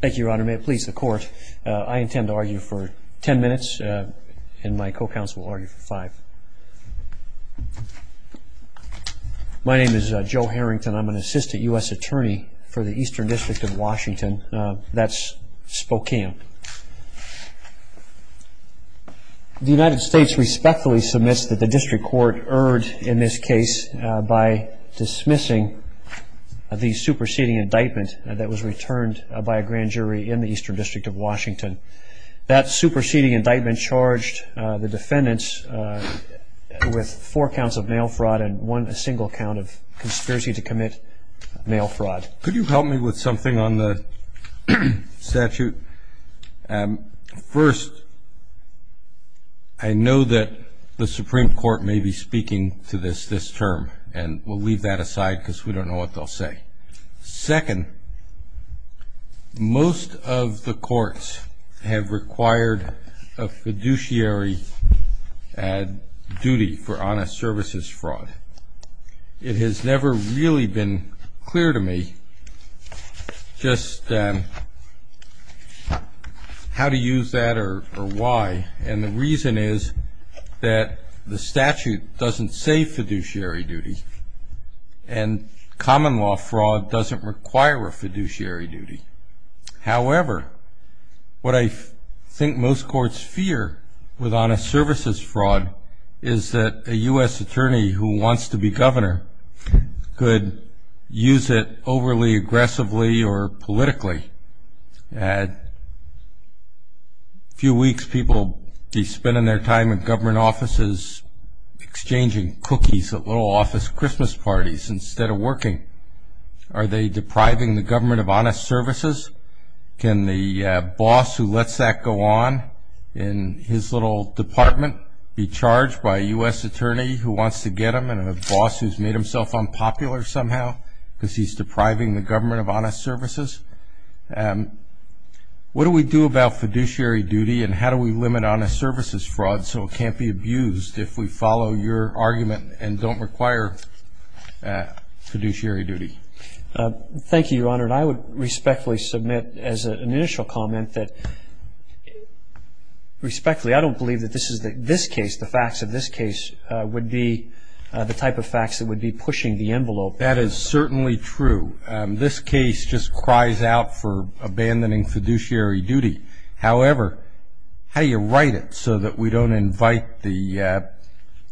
Thank you, Your Honor. May it please the Court, I intend to argue for ten minutes and my co-counsel will argue for five. My name is Joe Harrington. I'm an assistant U.S. attorney for the Eastern District of Washington. That's Spokane. The United States respectfully submits that the District Court erred in this case by dismissing the superseding indictment that was returned by a grand jury in the Eastern District of Washington. That superseding indictment charged the defendants with four counts of mail fraud and one single count of conspiracy to commit mail fraud. Could you help me with something on the statute? First, I know that the Supreme Court may be speaking to this this term, and we'll leave that aside because we don't know what they'll say. Second, most of the courts have required a fiduciary duty for honest services fraud. It has never really been clear to me just how to use that or why. And the reason is that the statute doesn't say fiduciary duty and common law fraud doesn't require a fiduciary duty. However, what I think most courts fear with honest services fraud is that a U.S. attorney who wants to be governor could use it overly aggressively or politically. A few weeks people be spending their time in government offices exchanging cookies at little office Christmas parties instead of working. Are they depriving the government of honest services? Can the boss who lets that go on in his little department be charged by a U.S. attorney who wants to get him and a boss who's made himself unpopular somehow because he's depriving the government of honest services? What do we do about fiduciary duty and how do we limit honest services fraud so it can't be abused if we follow your argument and don't require fiduciary duty? Thank you, Your Honor, and I would respectfully submit as an initial comment that, respectfully, I don't believe that this case, the facts of this case, would be the type of facts that would be pushing the envelope. That is certainly true. This case just cries out for abandoning fiduciary duty. However, how do you write it so that we don't invite the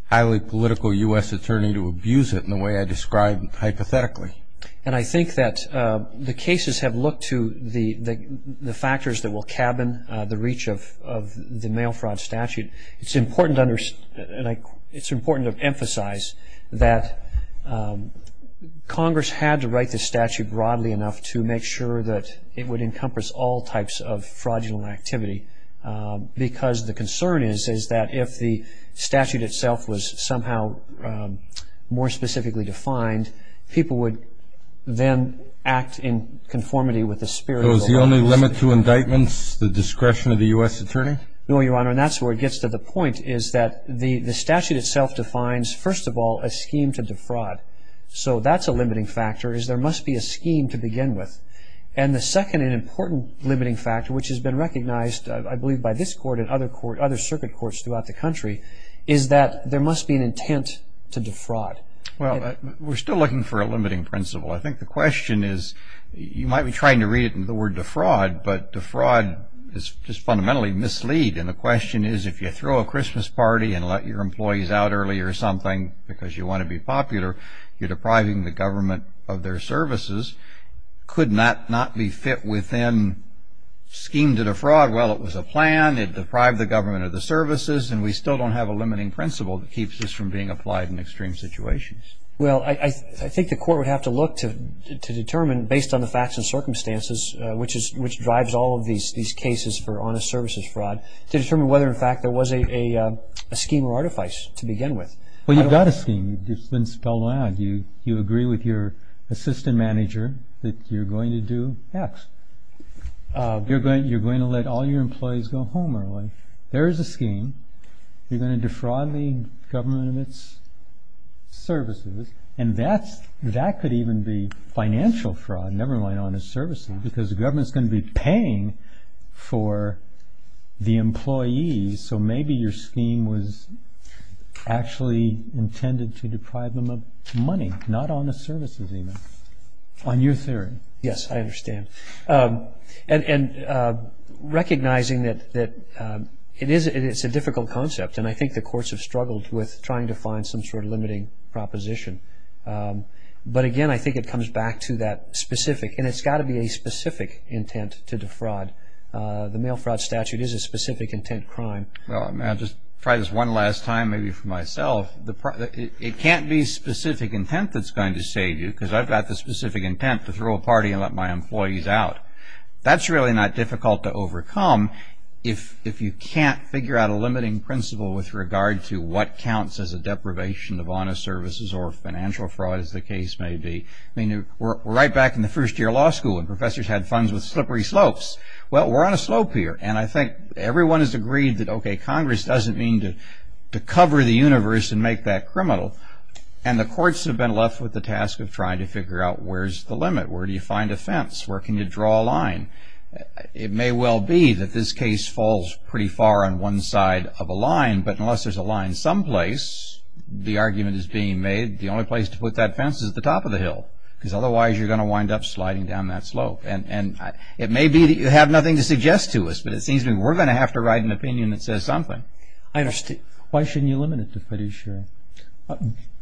highly political U.S. attorney to abuse it in the way I described hypothetically? And I think that the cases have looked to the factors that will cabin the reach of the mail fraud statute. It's important to emphasize that Congress had to write the statute broadly enough to make sure that it would encompass all types of fraudulent activity because the concern is that if the statute itself was somehow more specifically defined, people would then act in conformity with the spirit of law. So is the only limit to indictments the discretion of the U.S. attorney? No, Your Honor, and that's where it gets to the point is that the statute itself defines, first of all, a scheme to defraud. So that's a limiting factor is there must be a scheme to begin with. And the second and important limiting factor, which has been recognized, I believe, by this court and other circuit courts throughout the country, is that there must be an intent to defraud. Well, we're still looking for a limiting principle. I think the question is you might be trying to read it in the word defraud, but defraud is just fundamentally mislead. And the question is if you throw a Christmas party and let your employees out early or something because you want to be popular, you're depriving the government of their services, could that not be fit within scheme to defraud? Well, it was a plan. It deprived the government of the services, and we still don't have a limiting principle that keeps this from being applied in extreme situations. Well, I think the court would have to look to determine, based on the facts and circumstances, which drives all of these cases for honest services fraud, to determine whether, in fact, there was a scheme or artifice to begin with. Well, you've got a scheme. It's been spelled out. You agree with your assistant manager that you're going to do X. You're going to let all your employees go home early. There is a scheme. You're going to defraud the government of its services, and that could even be financial fraud, never mind honest services, because the government is going to be paying for the employees, so maybe your scheme was actually intended to deprive them of money, not honest services even, on your theory. Yes, I understand. And recognizing that it's a difficult concept, and I think the courts have struggled with trying to find some sort of limiting proposition, but, again, I think it comes back to that specific, and it's got to be a specific intent to defraud. The mail fraud statute is a specific intent crime. Well, may I just try this one last time, maybe for myself? It can't be specific intent that's going to save you, because I've got the specific intent to throw a party and let my employees out. That's really not difficult to overcome if you can't figure out a limiting principle with regard to what counts as a deprivation of honest services or financial fraud, as the case may be. I mean, we're right back in the first year of law school, and professors had funds with slippery slopes. Well, we're on a slope here, and I think everyone has agreed that, okay, Congress doesn't mean to cover the universe and make that criminal, and the courts have been left with the task of trying to figure out where's the limit, where do you find a fence, where can you draw a line. It may well be that this case falls pretty far on one side of a line, but unless there's a line someplace, the argument is being made the only place to put that fence is at the top of the hill, because otherwise you're going to wind up sliding down that slope. And it may be that you have nothing to suggest to us, but it seems to me we're going to have to write an opinion that says something. I understand. Why shouldn't you limit it to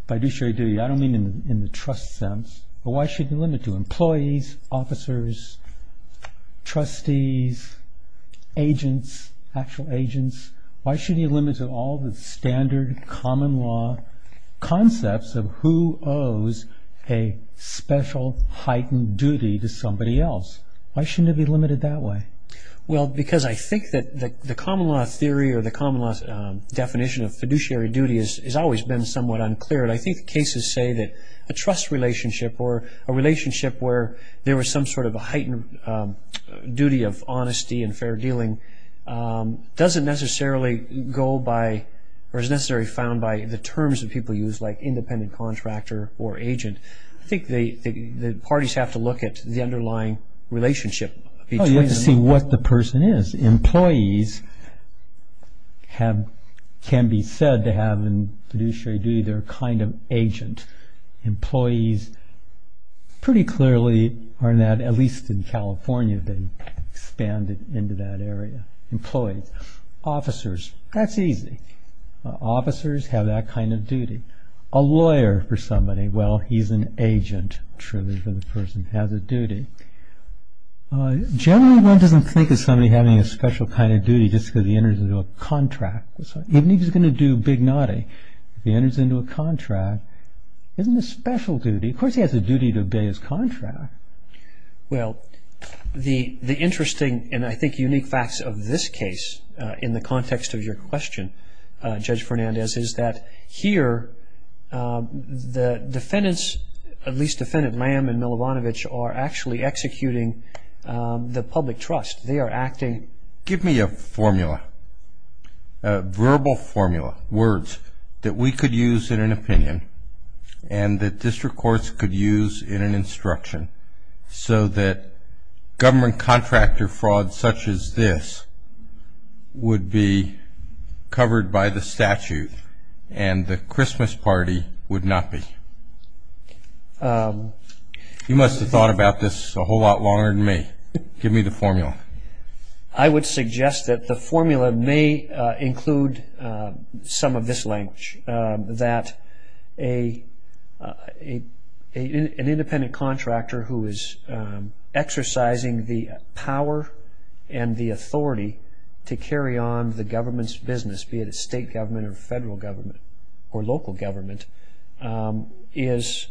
fiduciary duty? I don't mean in the trust sense, but why should you limit it to employees, officers, trustees, agents, actual agents? Why shouldn't you limit it to all the standard common law concepts of who owes a special heightened duty to somebody else? Why shouldn't it be limited that way? Well, because I think that the common law theory or the common law definition of fiduciary duty has always been somewhat unclear, and I think the cases say that a trust relationship or a relationship where there was some sort of a heightened duty of honesty and fair dealing doesn't necessarily go by or is necessarily found by the terms that people use like independent contractor or agent. I think the parties have to look at the underlying relationship between them. Well, you have to see what the person is. Employees can be said to have in fiduciary duty their kind of agent. Employees pretty clearly are not, at least in California, they've expanded into that area. Employees. Officers. That's easy. Officers have that kind of duty. A lawyer for somebody. Well, he's an agent, truly, for the person who has a duty. Generally, one doesn't think of somebody having a special kind of duty just because he enters into a contract. Even if he's going to do big naughty. If he enters into a contract, isn't it a special duty? Of course he has a duty to obey his contract. Well, the interesting and I think unique facts of this case in the context of your question, Judge Fernandez, is that here the defendants, at least Defendant Lamb and Milovanovich, are actually executing the public trust. They are acting. Give me a formula, a verbal formula, words that we could use in an opinion and that district courts could use in an instruction so that government contractor fraud such as this would be covered by the statute and the Christmas party would not be. You must have thought about this a whole lot longer than me. Give me the formula. I would suggest that the formula may include some of this language, that an independent contractor who is exercising the power and the authority to carry on the government's business, be it a state government or federal government or local government, is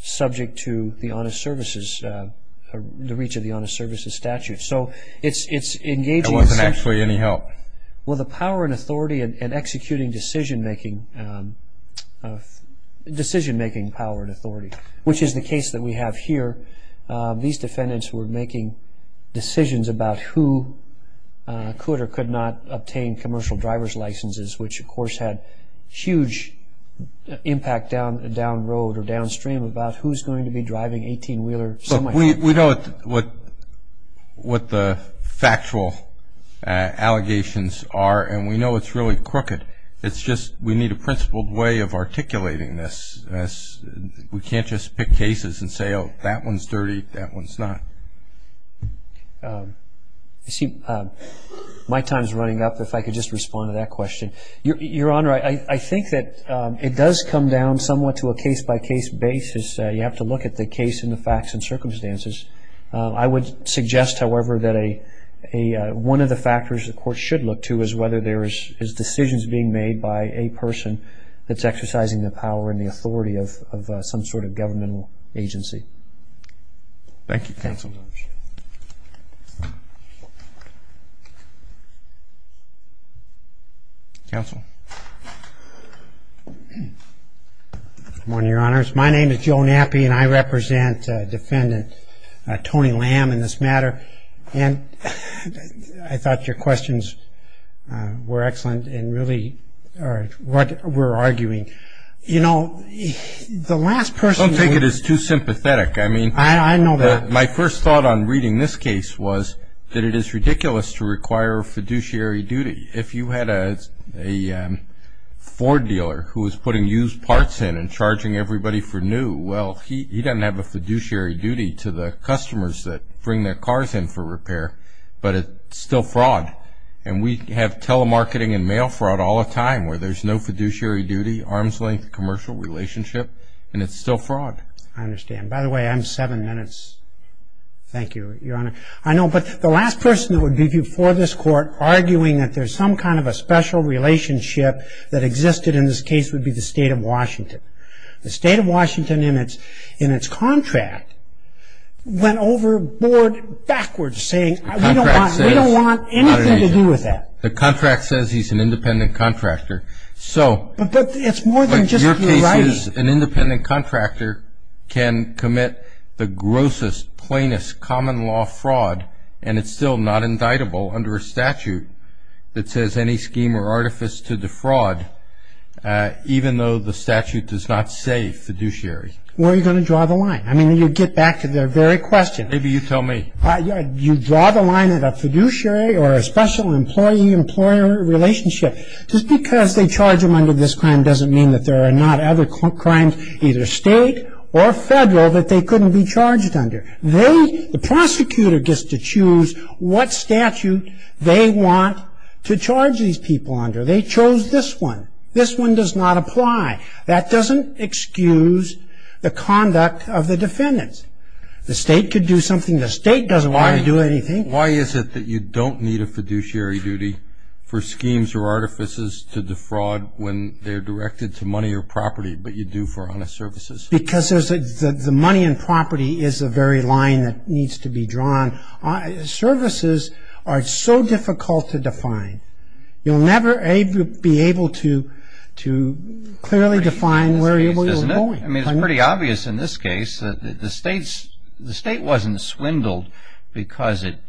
subject to the honest services, the reach of the honest services statute. It wasn't actually any help. Well, the power and authority in executing decision-making power and authority, which is the case that we have here, these defendants were making decisions about who could or could not obtain commercial driver's licenses, which, of course, had huge impact down the road or downstream about who is going to be driving 18-wheeler semi-trucks. But we know what the factual allegations are, and we know it's really crooked. It's just we need a principled way of articulating this. We can't just pick cases and say, oh, that one's dirty, that one's not. I see my time is running up. If I could just respond to that question. Your Honor, I think that it does come down somewhat to a case-by-case basis. You have to look at the case and the facts and circumstances. I would suggest, however, that one of the factors the court should look to is whether there is decisions being made by a person that's exercising the power and the authority of some sort of governmental agency. Thank you, Counsel. Counsel. Good morning, Your Honors. My name is Joe Knappi, and I represent Defendant Tony Lamb in this matter. And I thought your questions were excellent and really are what we're arguing. You know, the last person who was- I know that. My first thought on reading this case was that it is ridiculous to require a fiduciary duty. If you had a Ford dealer who was putting used parts in and charging everybody for new, well, he doesn't have a fiduciary duty to the customers that bring their cars in for repair, but it's still fraud. And we have telemarketing and mail fraud all the time where there's no fiduciary duty, arms-length commercial relationship, and it's still fraud. I understand. By the way, I'm seven minutes. Thank you, Your Honor. I know. But the last person that would be before this Court arguing that there's some kind of a special relationship that existed in this case would be the State of Washington. The State of Washington in its contract went overboard backwards saying, we don't want anything to do with that. The contract says he's an independent contractor. But it's more than just your writing. It says an independent contractor can commit the grossest, plainest common-law fraud, and it's still not indictable under a statute that says any scheme or artifice to defraud, even though the statute does not say fiduciary. Where are you going to draw the line? I mean, you get back to the very question. Maybe you tell me. You draw the line at a fiduciary or a special employee-employer relationship. Just because they charge them under this crime doesn't mean that there are not other crimes, either State or Federal, that they couldn't be charged under. The prosecutor gets to choose what statute they want to charge these people under. They chose this one. This one does not apply. That doesn't excuse the conduct of the defendants. The State could do something the State doesn't want to do anything. Why is it that you don't need a fiduciary duty for schemes or artifices to defraud when they're directed to money or property but you do for honest services? Because the money and property is the very line that needs to be drawn. Services are so difficult to define. You'll never be able to clearly define where you're going. I mean, it's pretty obvious in this case. The State wasn't swindled because it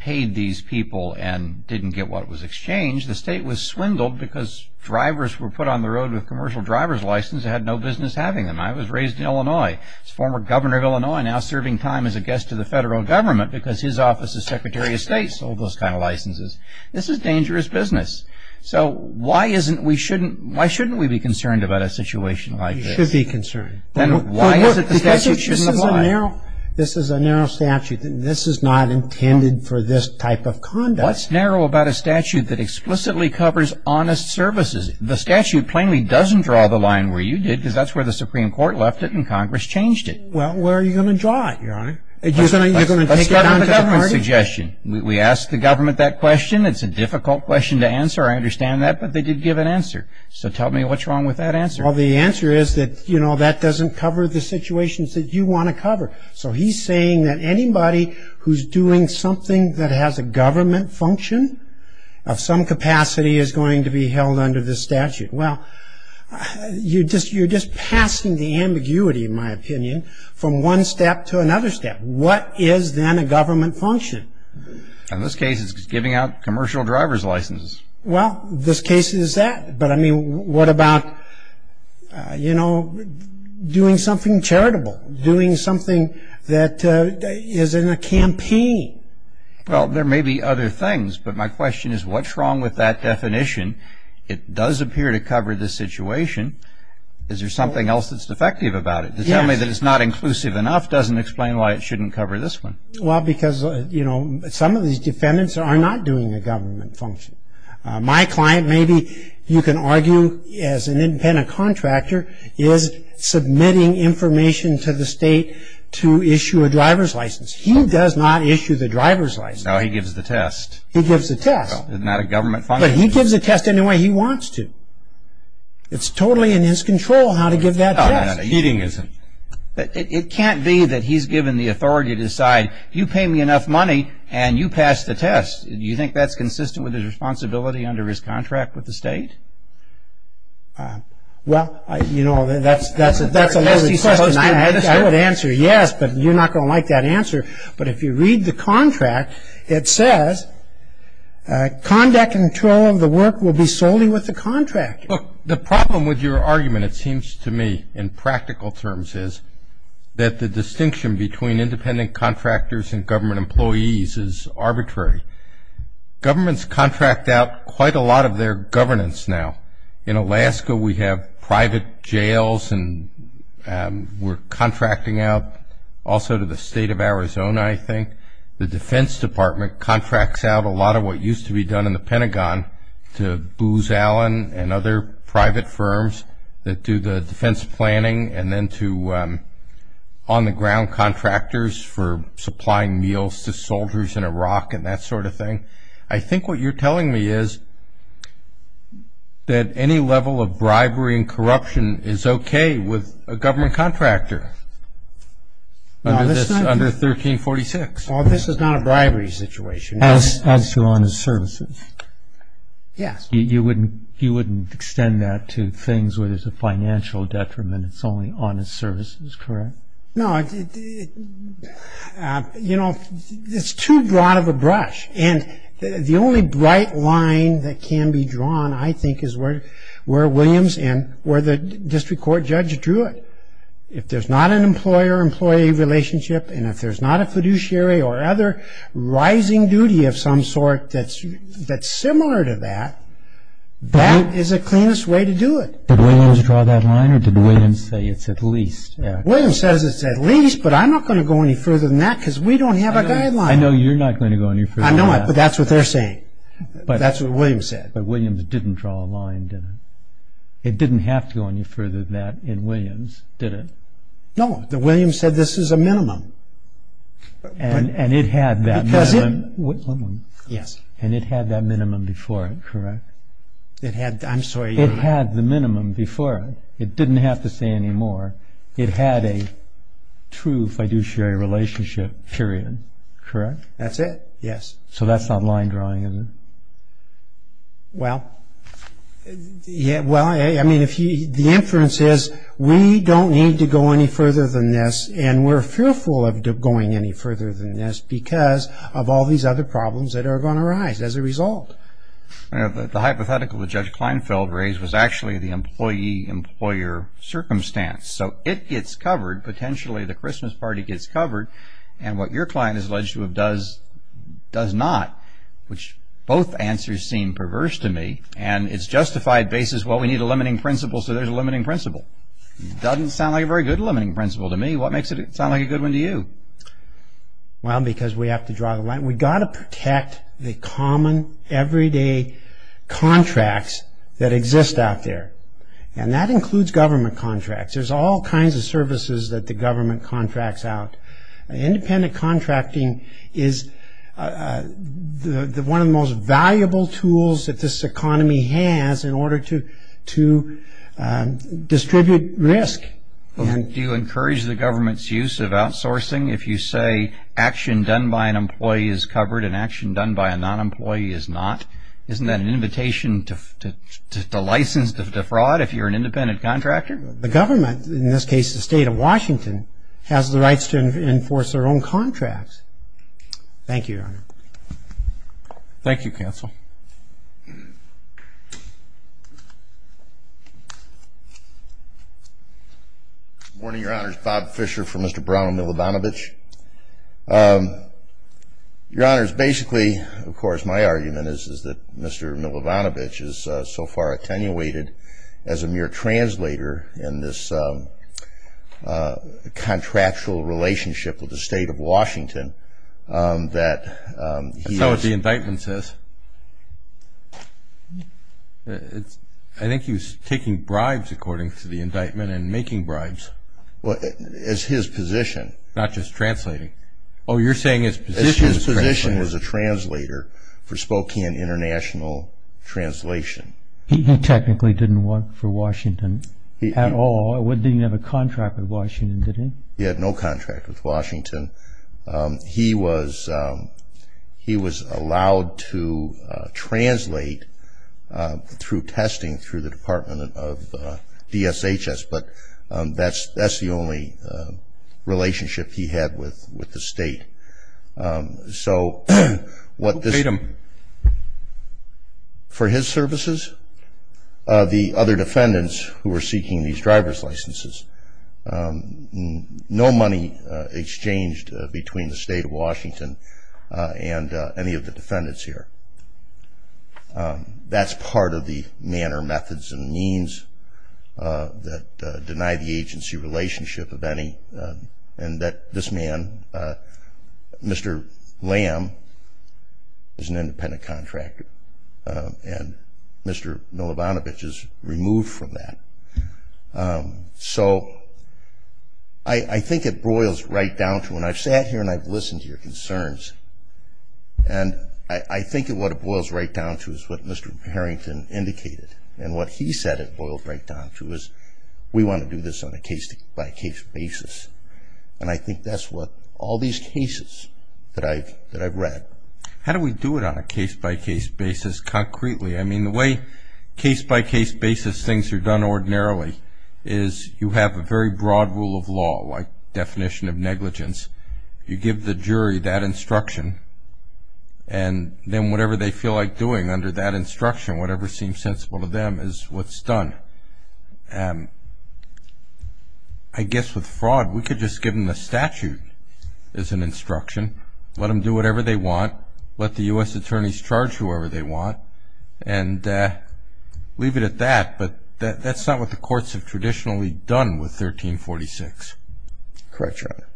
paid these people and didn't get what was exchanged. The State was swindled because drivers were put on the road with commercial driver's licenses and had no business having them. I was raised in Illinois. As former governor of Illinois, now serving time as a guest to the Federal Government because his office as Secretary of State sold those kind of licenses. This is dangerous business. So why shouldn't we be concerned about a situation like this? You should be concerned. Then why is it the statute shouldn't apply? This is a narrow statute. This is not intended for this type of conduct. What's narrow about a statute that explicitly covers honest services? The statute plainly doesn't draw the line where you did because that's where the Supreme Court left it and Congress changed it. Well, where are you going to draw it, Your Honor? You're going to take it down to the party? Let's start with a government suggestion. We asked the government that question. It's a difficult question to answer. I understand that, but they did give an answer. So tell me what's wrong with that answer. Well, the answer is that that doesn't cover the situations that you want to cover. So he's saying that anybody who's doing something that has a government function of some capacity is going to be held under this statute. Well, you're just passing the ambiguity, in my opinion, from one step to another step. What is then a government function? In this case, it's giving out commercial driver's licenses. Well, this case is that. But, I mean, what about, you know, doing something charitable, doing something that is in a campaign? Well, there may be other things, but my question is what's wrong with that definition? It does appear to cover this situation. Is there something else that's defective about it? To tell me that it's not inclusive enough doesn't explain why it shouldn't cover this one. Well, because, you know, some of these defendants are not doing a government function. My client, maybe you can argue as an independent contractor, is submitting information to the state to issue a driver's license. He does not issue the driver's license. No, he gives the test. He gives the test. It's not a government function. But he gives the test any way he wants to. It's totally in his control how to give that test. No, no, no, he isn't. It can't be that he's given the authority to decide, you pay me enough money and you pass the test. Do you think that's consistent with his responsibility under his contract with the state? Well, you know, that's a loaded question. I would answer yes, but you're not going to like that answer. But if you read the contract, it says conduct and control of the work will be solely with the contractor. Look, the problem with your argument, it seems to me, in practical terms, that the distinction between independent contractors and government employees is arbitrary. Governments contract out quite a lot of their governance now. In Alaska, we have private jails, and we're contracting out also to the state of Arizona, I think. The Defense Department contracts out a lot of what used to be done in the Pentagon to Booz Allen and other private firms that do the defense planning, and then to on-the-ground contractors for supplying meals to soldiers in Iraq and that sort of thing. I think what you're telling me is that any level of bribery and corruption is okay with a government contractor under 1346. Well, this is not a bribery situation. As to honest services. Yes. You wouldn't extend that to things where there's a financial detriment. It's only honest services, correct? No. You know, it's too broad of a brush, and the only bright line that can be drawn, I think, is where Williams and where the district court judge drew it. If there's not an employer-employee relationship, and if there's not a fiduciary or other rising duty of some sort that's similar to that, that is the cleanest way to do it. Did Williams draw that line, or did Williams say it's at least? Williams says it's at least, but I'm not going to go any further than that because we don't have a guideline. I know you're not going to go any further than that. I know, but that's what they're saying. That's what Williams said. But Williams didn't draw a line, did he? It didn't have to go any further than that in Williams, did it? No. Williams said this is a minimum. And it had that minimum. Yes. And it had that minimum before it, correct? It had, I'm sorry. It had the minimum before it. It didn't have to say any more. It had a true fiduciary relationship, period, correct? That's it, yes. So that's not line drawing, is it? Well, I mean, the inference is we don't need to go any further than this, and we're fearful of going any further than this because of all these other problems that are going to arise as a result. The hypothetical that Judge Kleinfeld raised was actually the employee-employer circumstance. So it gets covered, potentially the Christmas party gets covered, and what your client is alleged to have does does not, which both answers seem perverse to me. And it's justified basis, well, we need a limiting principle, so there's a limiting principle. It doesn't sound like a very good limiting principle to me. What makes it sound like a good one to you? Well, because we have to draw the line. We've got to protect the common, everyday contracts that exist out there. And that includes government contracts. There's all kinds of services that the government contracts out. Independent contracting is one of the most valuable tools that this economy has in order to distribute risk. Do you encourage the government's use of outsourcing? If you say action done by an employee is covered and action done by a non-employee is not, isn't that an invitation to license defraud if you're an independent contractor? The government, in this case the state of Washington, has the rights to enforce their own contracts. Thank you, Your Honor. Thank you, counsel. Good morning, Your Honors. Bob Fisher for Mr. Brown and Milovanovich. Your Honors, basically, of course, my argument is that Mr. Milovanovich is so far attenuated as a mere translator in this contractual relationship with the state of Washington that he is. That's not what the indictment says. I think he was taking bribes, according to the indictment, and making bribes. Well, it's his position. Not just translating. Oh, you're saying it's his position as a translator. It's his position as a translator for Spokane International Translation. He technically didn't work for Washington at all. He didn't have a contract with Washington, did he? He had no contract with Washington. He was allowed to translate through testing through the Department of DSHS, but that's the only relationship he had with the state. Who paid him? For his services? The other defendants who were seeking these driver's licenses. No money exchanged between the state of Washington and any of the defendants here. That's part of the manner, methods, and means that deny the agency relationship of any, and that this man, Mr. Lamb, is an independent contractor, and Mr. Milibanovich is removed from that. So I think it boils right down to, and I've sat here and I've listened to your concerns, and I think what it boils right down to is what Mr. Harrington indicated, and what he said it boils right down to is we want to do this on a case-by-case basis, and I think that's what all these cases that I've read. How do we do it on a case-by-case basis concretely? I mean, the way case-by-case basis things are done ordinarily is you have a very broad rule of law, like definition of negligence. You give the jury that instruction, and then whatever they feel like doing under that instruction, whatever seems sensible to them is what's done. I guess with fraud we could just give them the statute as an instruction, let them do whatever they want, let the U.S. attorneys charge whoever they want, and leave it at that, but that's not what the courts have traditionally done with 1346. Correct, Your Honor.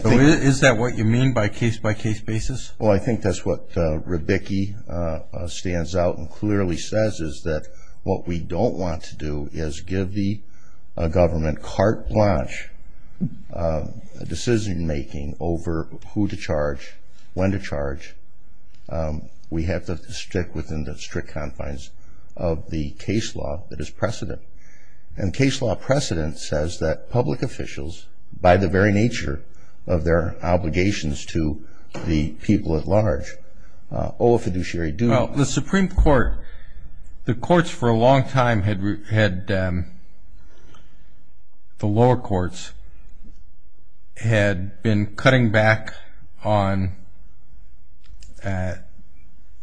Is that what you mean by case-by-case basis? Well, I think that's what Rebicki stands out and clearly says, is that what we don't want to do is give the government carte blanche decision-making over who to charge, when to charge. We have to stick within the strict confines of the case law that is precedent, and case law precedent says that public officials, by the very nature of their obligations to the people at large, owe a fiduciary duty. Well, the Supreme Court, the courts for a long time had, the lower courts, had been cutting back on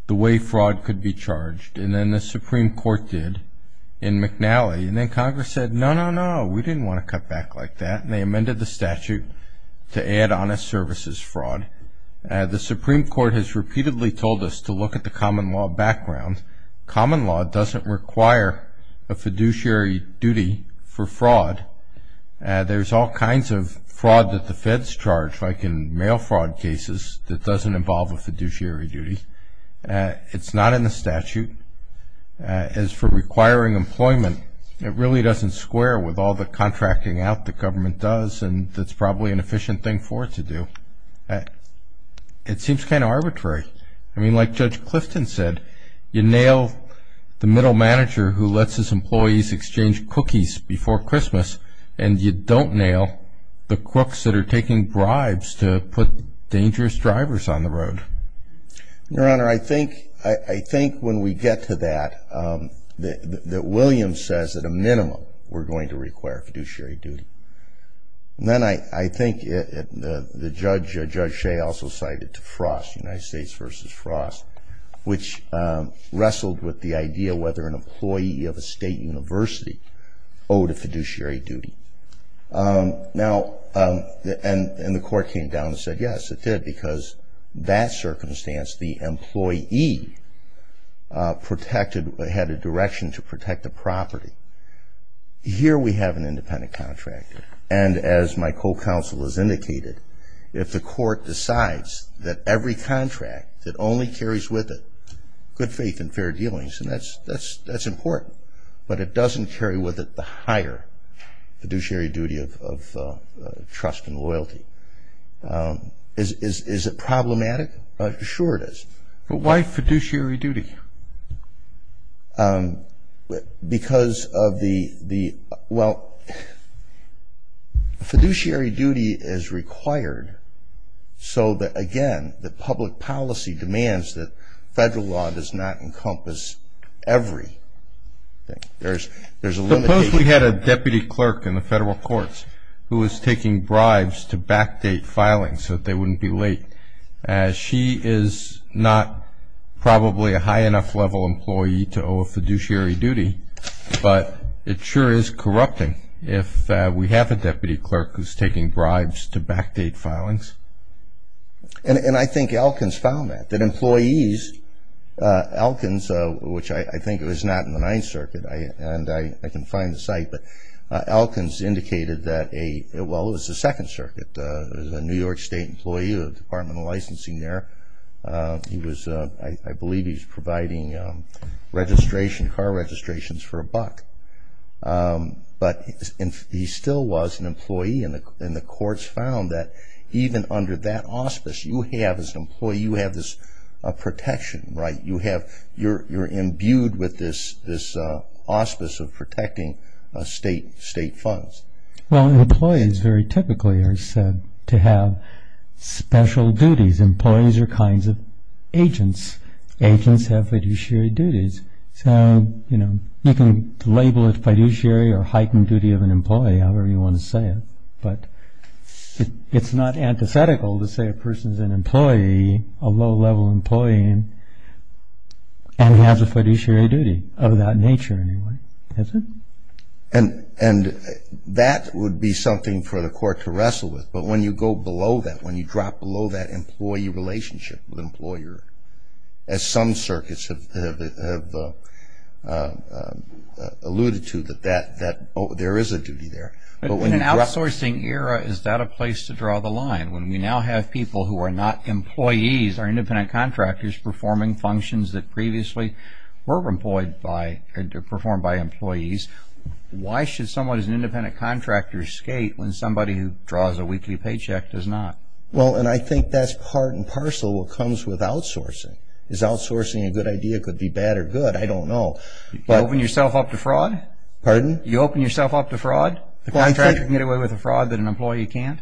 the way fraud could be charged, and then the Supreme Court did in McNally, and then Congress said, no, no, no, we didn't want to cut back like that, and they amended the statute to add honest services fraud. The Supreme Court has repeatedly told us to look at the common law background. Common law doesn't require a fiduciary duty for fraud. There's all kinds of fraud that the feds charge, like in mail fraud cases, that doesn't involve a fiduciary duty. It's not in the statute. As for requiring employment, it really doesn't square with all the contracting out the government does, and that's probably an efficient thing for it to do. It seems kind of arbitrary. I mean, like Judge Clifton said, you nail the middle manager who lets his employees exchange cookies before Christmas, and you don't nail the cooks that are taking bribes to put dangerous drivers on the road. Your Honor, I think when we get to that, that Williams says at a minimum we're going to require a fiduciary duty. And then I think the judge, Judge Shea, also cited to Frost, United States v. Frost, which wrestled with the idea whether an employee of a state university owed a fiduciary duty. Now, and the court came down and said, yes, it did, because that circumstance the employee protected, had a direction to protect the property. Here we have an independent contractor, and as my co-counsel has indicated, if the court decides that every contract that only carries with it good faith and fair dealings, and that's important, but it doesn't carry with it the higher fiduciary duty of trust and loyalty. Is it problematic? Sure it is. But why fiduciary duty? Because of the, well, fiduciary duty is required so that, again, that public policy demands that federal law does not encompass every. Suppose we had a deputy clerk in the federal courts who was taking bribes to backdate filings so that they wouldn't be late. She is not probably a high enough level employee to owe a fiduciary duty, but it sure is corrupting if we have a deputy clerk who's taking bribes to backdate filings. And I think Elkins found that, that employees, Elkins, which I think it was not in the Ninth Circuit, and I can find the site, but Elkins indicated that a, well, it was the Second Circuit, but it was a New York State employee of the Department of Licensing there. He was, I believe he was providing registration, car registrations for a buck. But he still was an employee, and the courts found that even under that auspice you have as an employee, you have this protection, right? You have, you're imbued with this auspice of protecting state funds. Well, employees very typically are said to have special duties. Employees are kinds of agents. Agents have fiduciary duties. So, you know, you can label it fiduciary or heightened duty of an employee, however you want to say it, but it's not antithetical to say a person's an employee, a low-level employee, and has a fiduciary duty of that nature anyway, is it? And that would be something for the court to wrestle with, but when you go below that, when you drop below that employee relationship with an employer, as some circuits have alluded to, that there is a duty there. In an outsourcing era, is that a place to draw the line? When we now have people who are not employees or independent contractors performing functions that previously were employed by and performed by employees, why should someone as an independent contractor skate when somebody who draws a weekly paycheck does not? Well, and I think that's part and parcel of what comes with outsourcing. Is outsourcing a good idea? It could be bad or good. I don't know. You open yourself up to fraud? Pardon? You open yourself up to fraud? A contractor can get away with a fraud that an employee can't?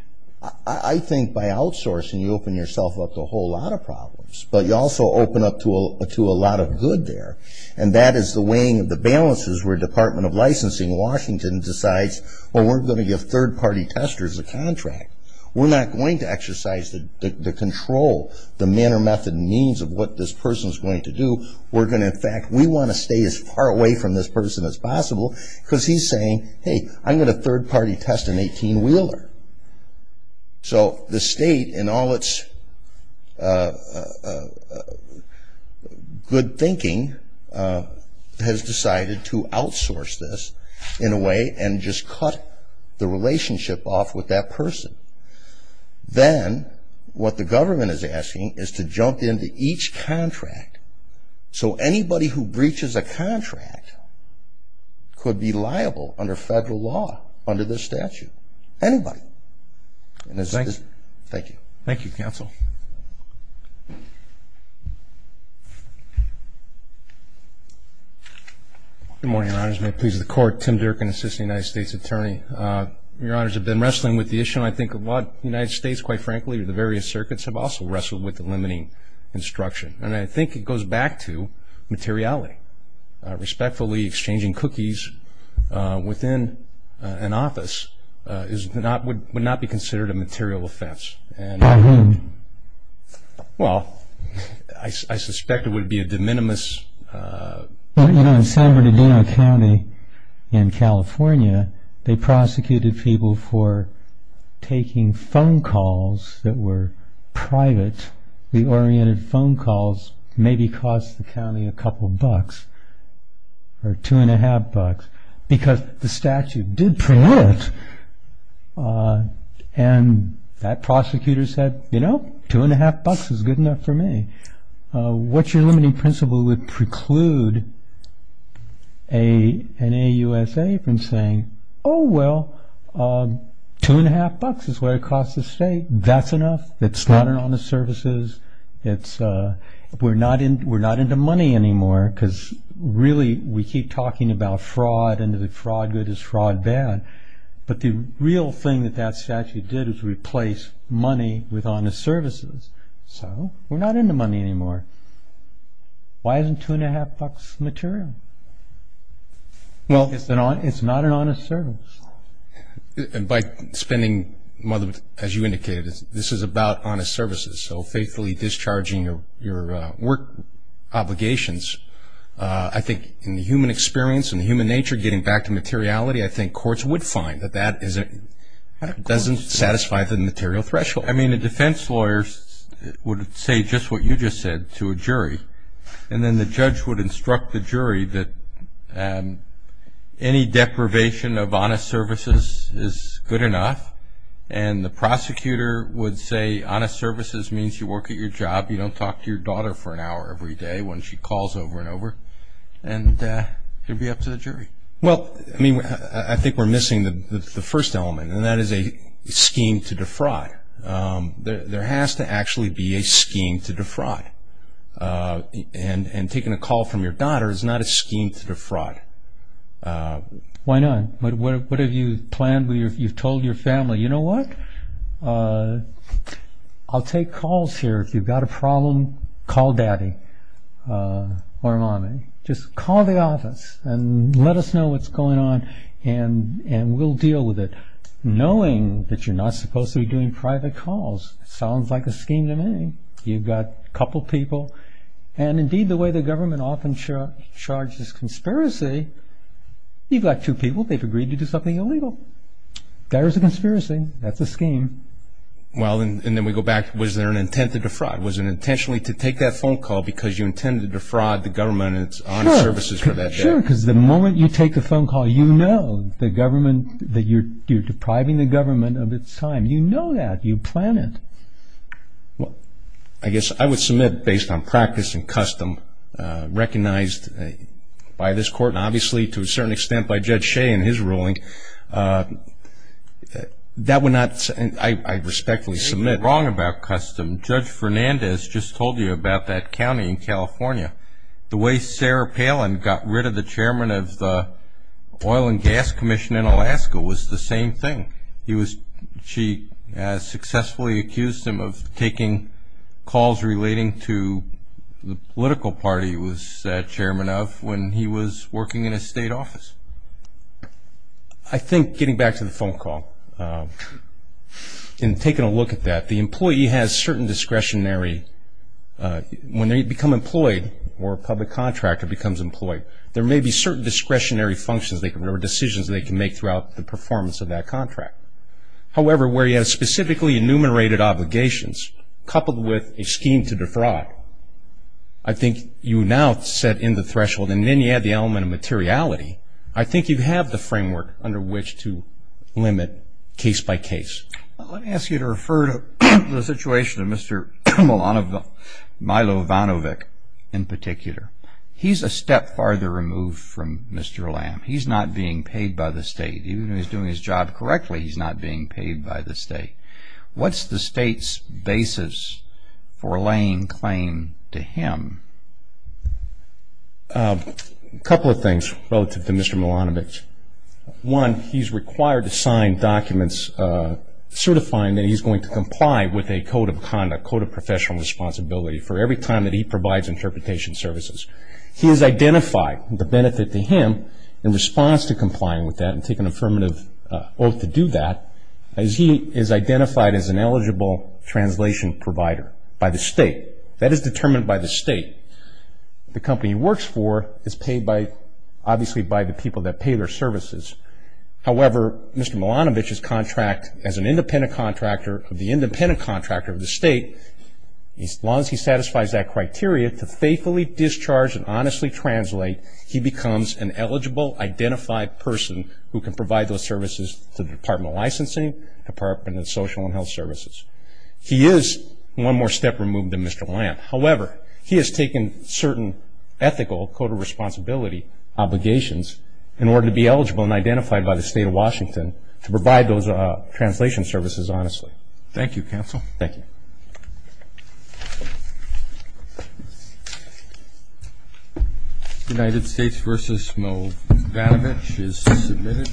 I think by outsourcing, you open yourself up to a whole lot of problems, but you also open up to a lot of good there, and that is the weighing of the balances where the Department of Licensing in Washington decides, well, we're going to give third-party testers a contract. We're not going to exercise the control, the manner, method, and means of what this person is going to do. We're going to, in fact, we want to stay as far away from this person as possible because he's saying, hey, I'm going to third-party test an 18-wheeler. So the state, in all its good thinking, has decided to outsource this in a way and just cut the relationship off with that person. Then what the government is asking is to jump into each contract so anybody who breaches a contract could be liable under federal law, under the statute, anybody. Thank you. Thank you, Counsel. Good morning, Your Honors. May it please the Court, Tim Durkin, Assistant United States Attorney. Your Honors, I've been wrestling with the issue. I think a lot of the United States, quite frankly, or the various circuits have also wrestled with the limiting instruction, and I think it goes back to materiality, respectfully exchanging cookies within an office would not be considered a material offense. By whom? Well, I suspect it would be a de minimis. Well, you know, in San Bernardino County in California, they prosecuted people for taking phone calls that were private. The oriented phone calls maybe cost the county a couple bucks or two and a half bucks because the statute did prelude it, and that prosecutor said, you know, two and a half bucks is good enough for me. What your limiting principle would preclude an AUSA from saying, oh, well, two and a half bucks is what it costs the state. That's enough. It's not an honest services. We're not into money anymore because really we keep talking about fraud and the fraud good is fraud bad, but the real thing that that statute did was replace money with honest services. So we're not into money anymore. Why isn't two and a half bucks material? Well, it's not an honest service. And by spending money, as you indicated, this is about honest services, so faithfully discharging your work obligations. I think in the human experience and the human nature, getting back to materiality, I think courts would find that that doesn't satisfy the material threshold. I mean, the defense lawyers would say just what you just said to a jury, and then the judge would instruct the jury that any deprivation of honest services is good enough, and the prosecutor would say honest services means you work at your job, you don't talk to your daughter for an hour every day when she calls over and over, and it would be up to the jury. Well, I mean, I think we're missing the first element, and that is a scheme to defraud. There has to actually be a scheme to defraud, and taking a call from your daughter is not a scheme to defraud. Why not? What have you planned? You've told your family, you know what, I'll take calls here. If you've got a problem, call Daddy or Mommy. Just call the office and let us know what's going on, and we'll deal with it, knowing that you're not supposed to be doing private calls. It sounds like a scheme to me. You've got a couple people, and indeed the way the government often charges conspiracy, you've got two people, they've agreed to do something illegal. There is a conspiracy. That's a scheme. Well, and then we go back, was there an intent to defraud? Was it intentionally to take that phone call because you intended to defraud the government and its honest services for that day? Sure, because the moment you take the phone call, you know that you're depriving the government of its time. You know that. You plan it. Well, I guess I would submit, based on practice and custom recognized by this court, and obviously to a certain extent by Judge Shea in his ruling, that would not, I respectfully submit. You're wrong about custom. Judge Fernandez just told you about that county in California, the way Sarah Palin got rid of the chairman of the Oil and Gas Commission in Alaska was the same thing. She successfully accused him of taking calls relating to the political party he was chairman of when he was working in his state office. I think getting back to the phone call and taking a look at that, the employee has certain discretionary, when they become employed or a public contractor becomes employed, there may be certain discretionary functions or decisions they can make throughout the performance of that contract. However, where you have specifically enumerated obligations coupled with a scheme to defraud, I think you now set in the threshold, and then you add the element of materiality, I think you have the framework under which to limit case by case. Let me ask you to refer to the situation of Mr. Milovanovich in particular. He's a step farther removed from Mr. Lamb. He's not being paid by the state. Even though he's doing his job correctly, he's not being paid by the state. What's the state's basis for laying claim to him? A couple of things relative to Mr. Milovanovich. One, he's required to sign documents certifying that he's going to comply with a code of conduct, a code of professional responsibility for every time that he provides interpretation services. He has identified the benefit to him in response to complying with that and take an affirmative oath to do that, as he is identified as an eligible translation provider by the state. That is determined by the state. The company he works for is paid by, obviously, by the people that pay their services. However, Mr. Milovanovich's contract as an independent contractor, the independent contractor of the state, as long as he satisfies that criteria, to faithfully discharge and honestly translate, he becomes an eligible, identified person who can provide those services to the Department of Licensing, Department of Social and Health Services. He is one more step removed than Mr. Lamb. However, he has taken certain ethical code of responsibility obligations in order to be eligible and identified by the state of Washington to provide those translation services honestly. Thank you, Counsel. Thank you. United States v. Milovanovich is submitted.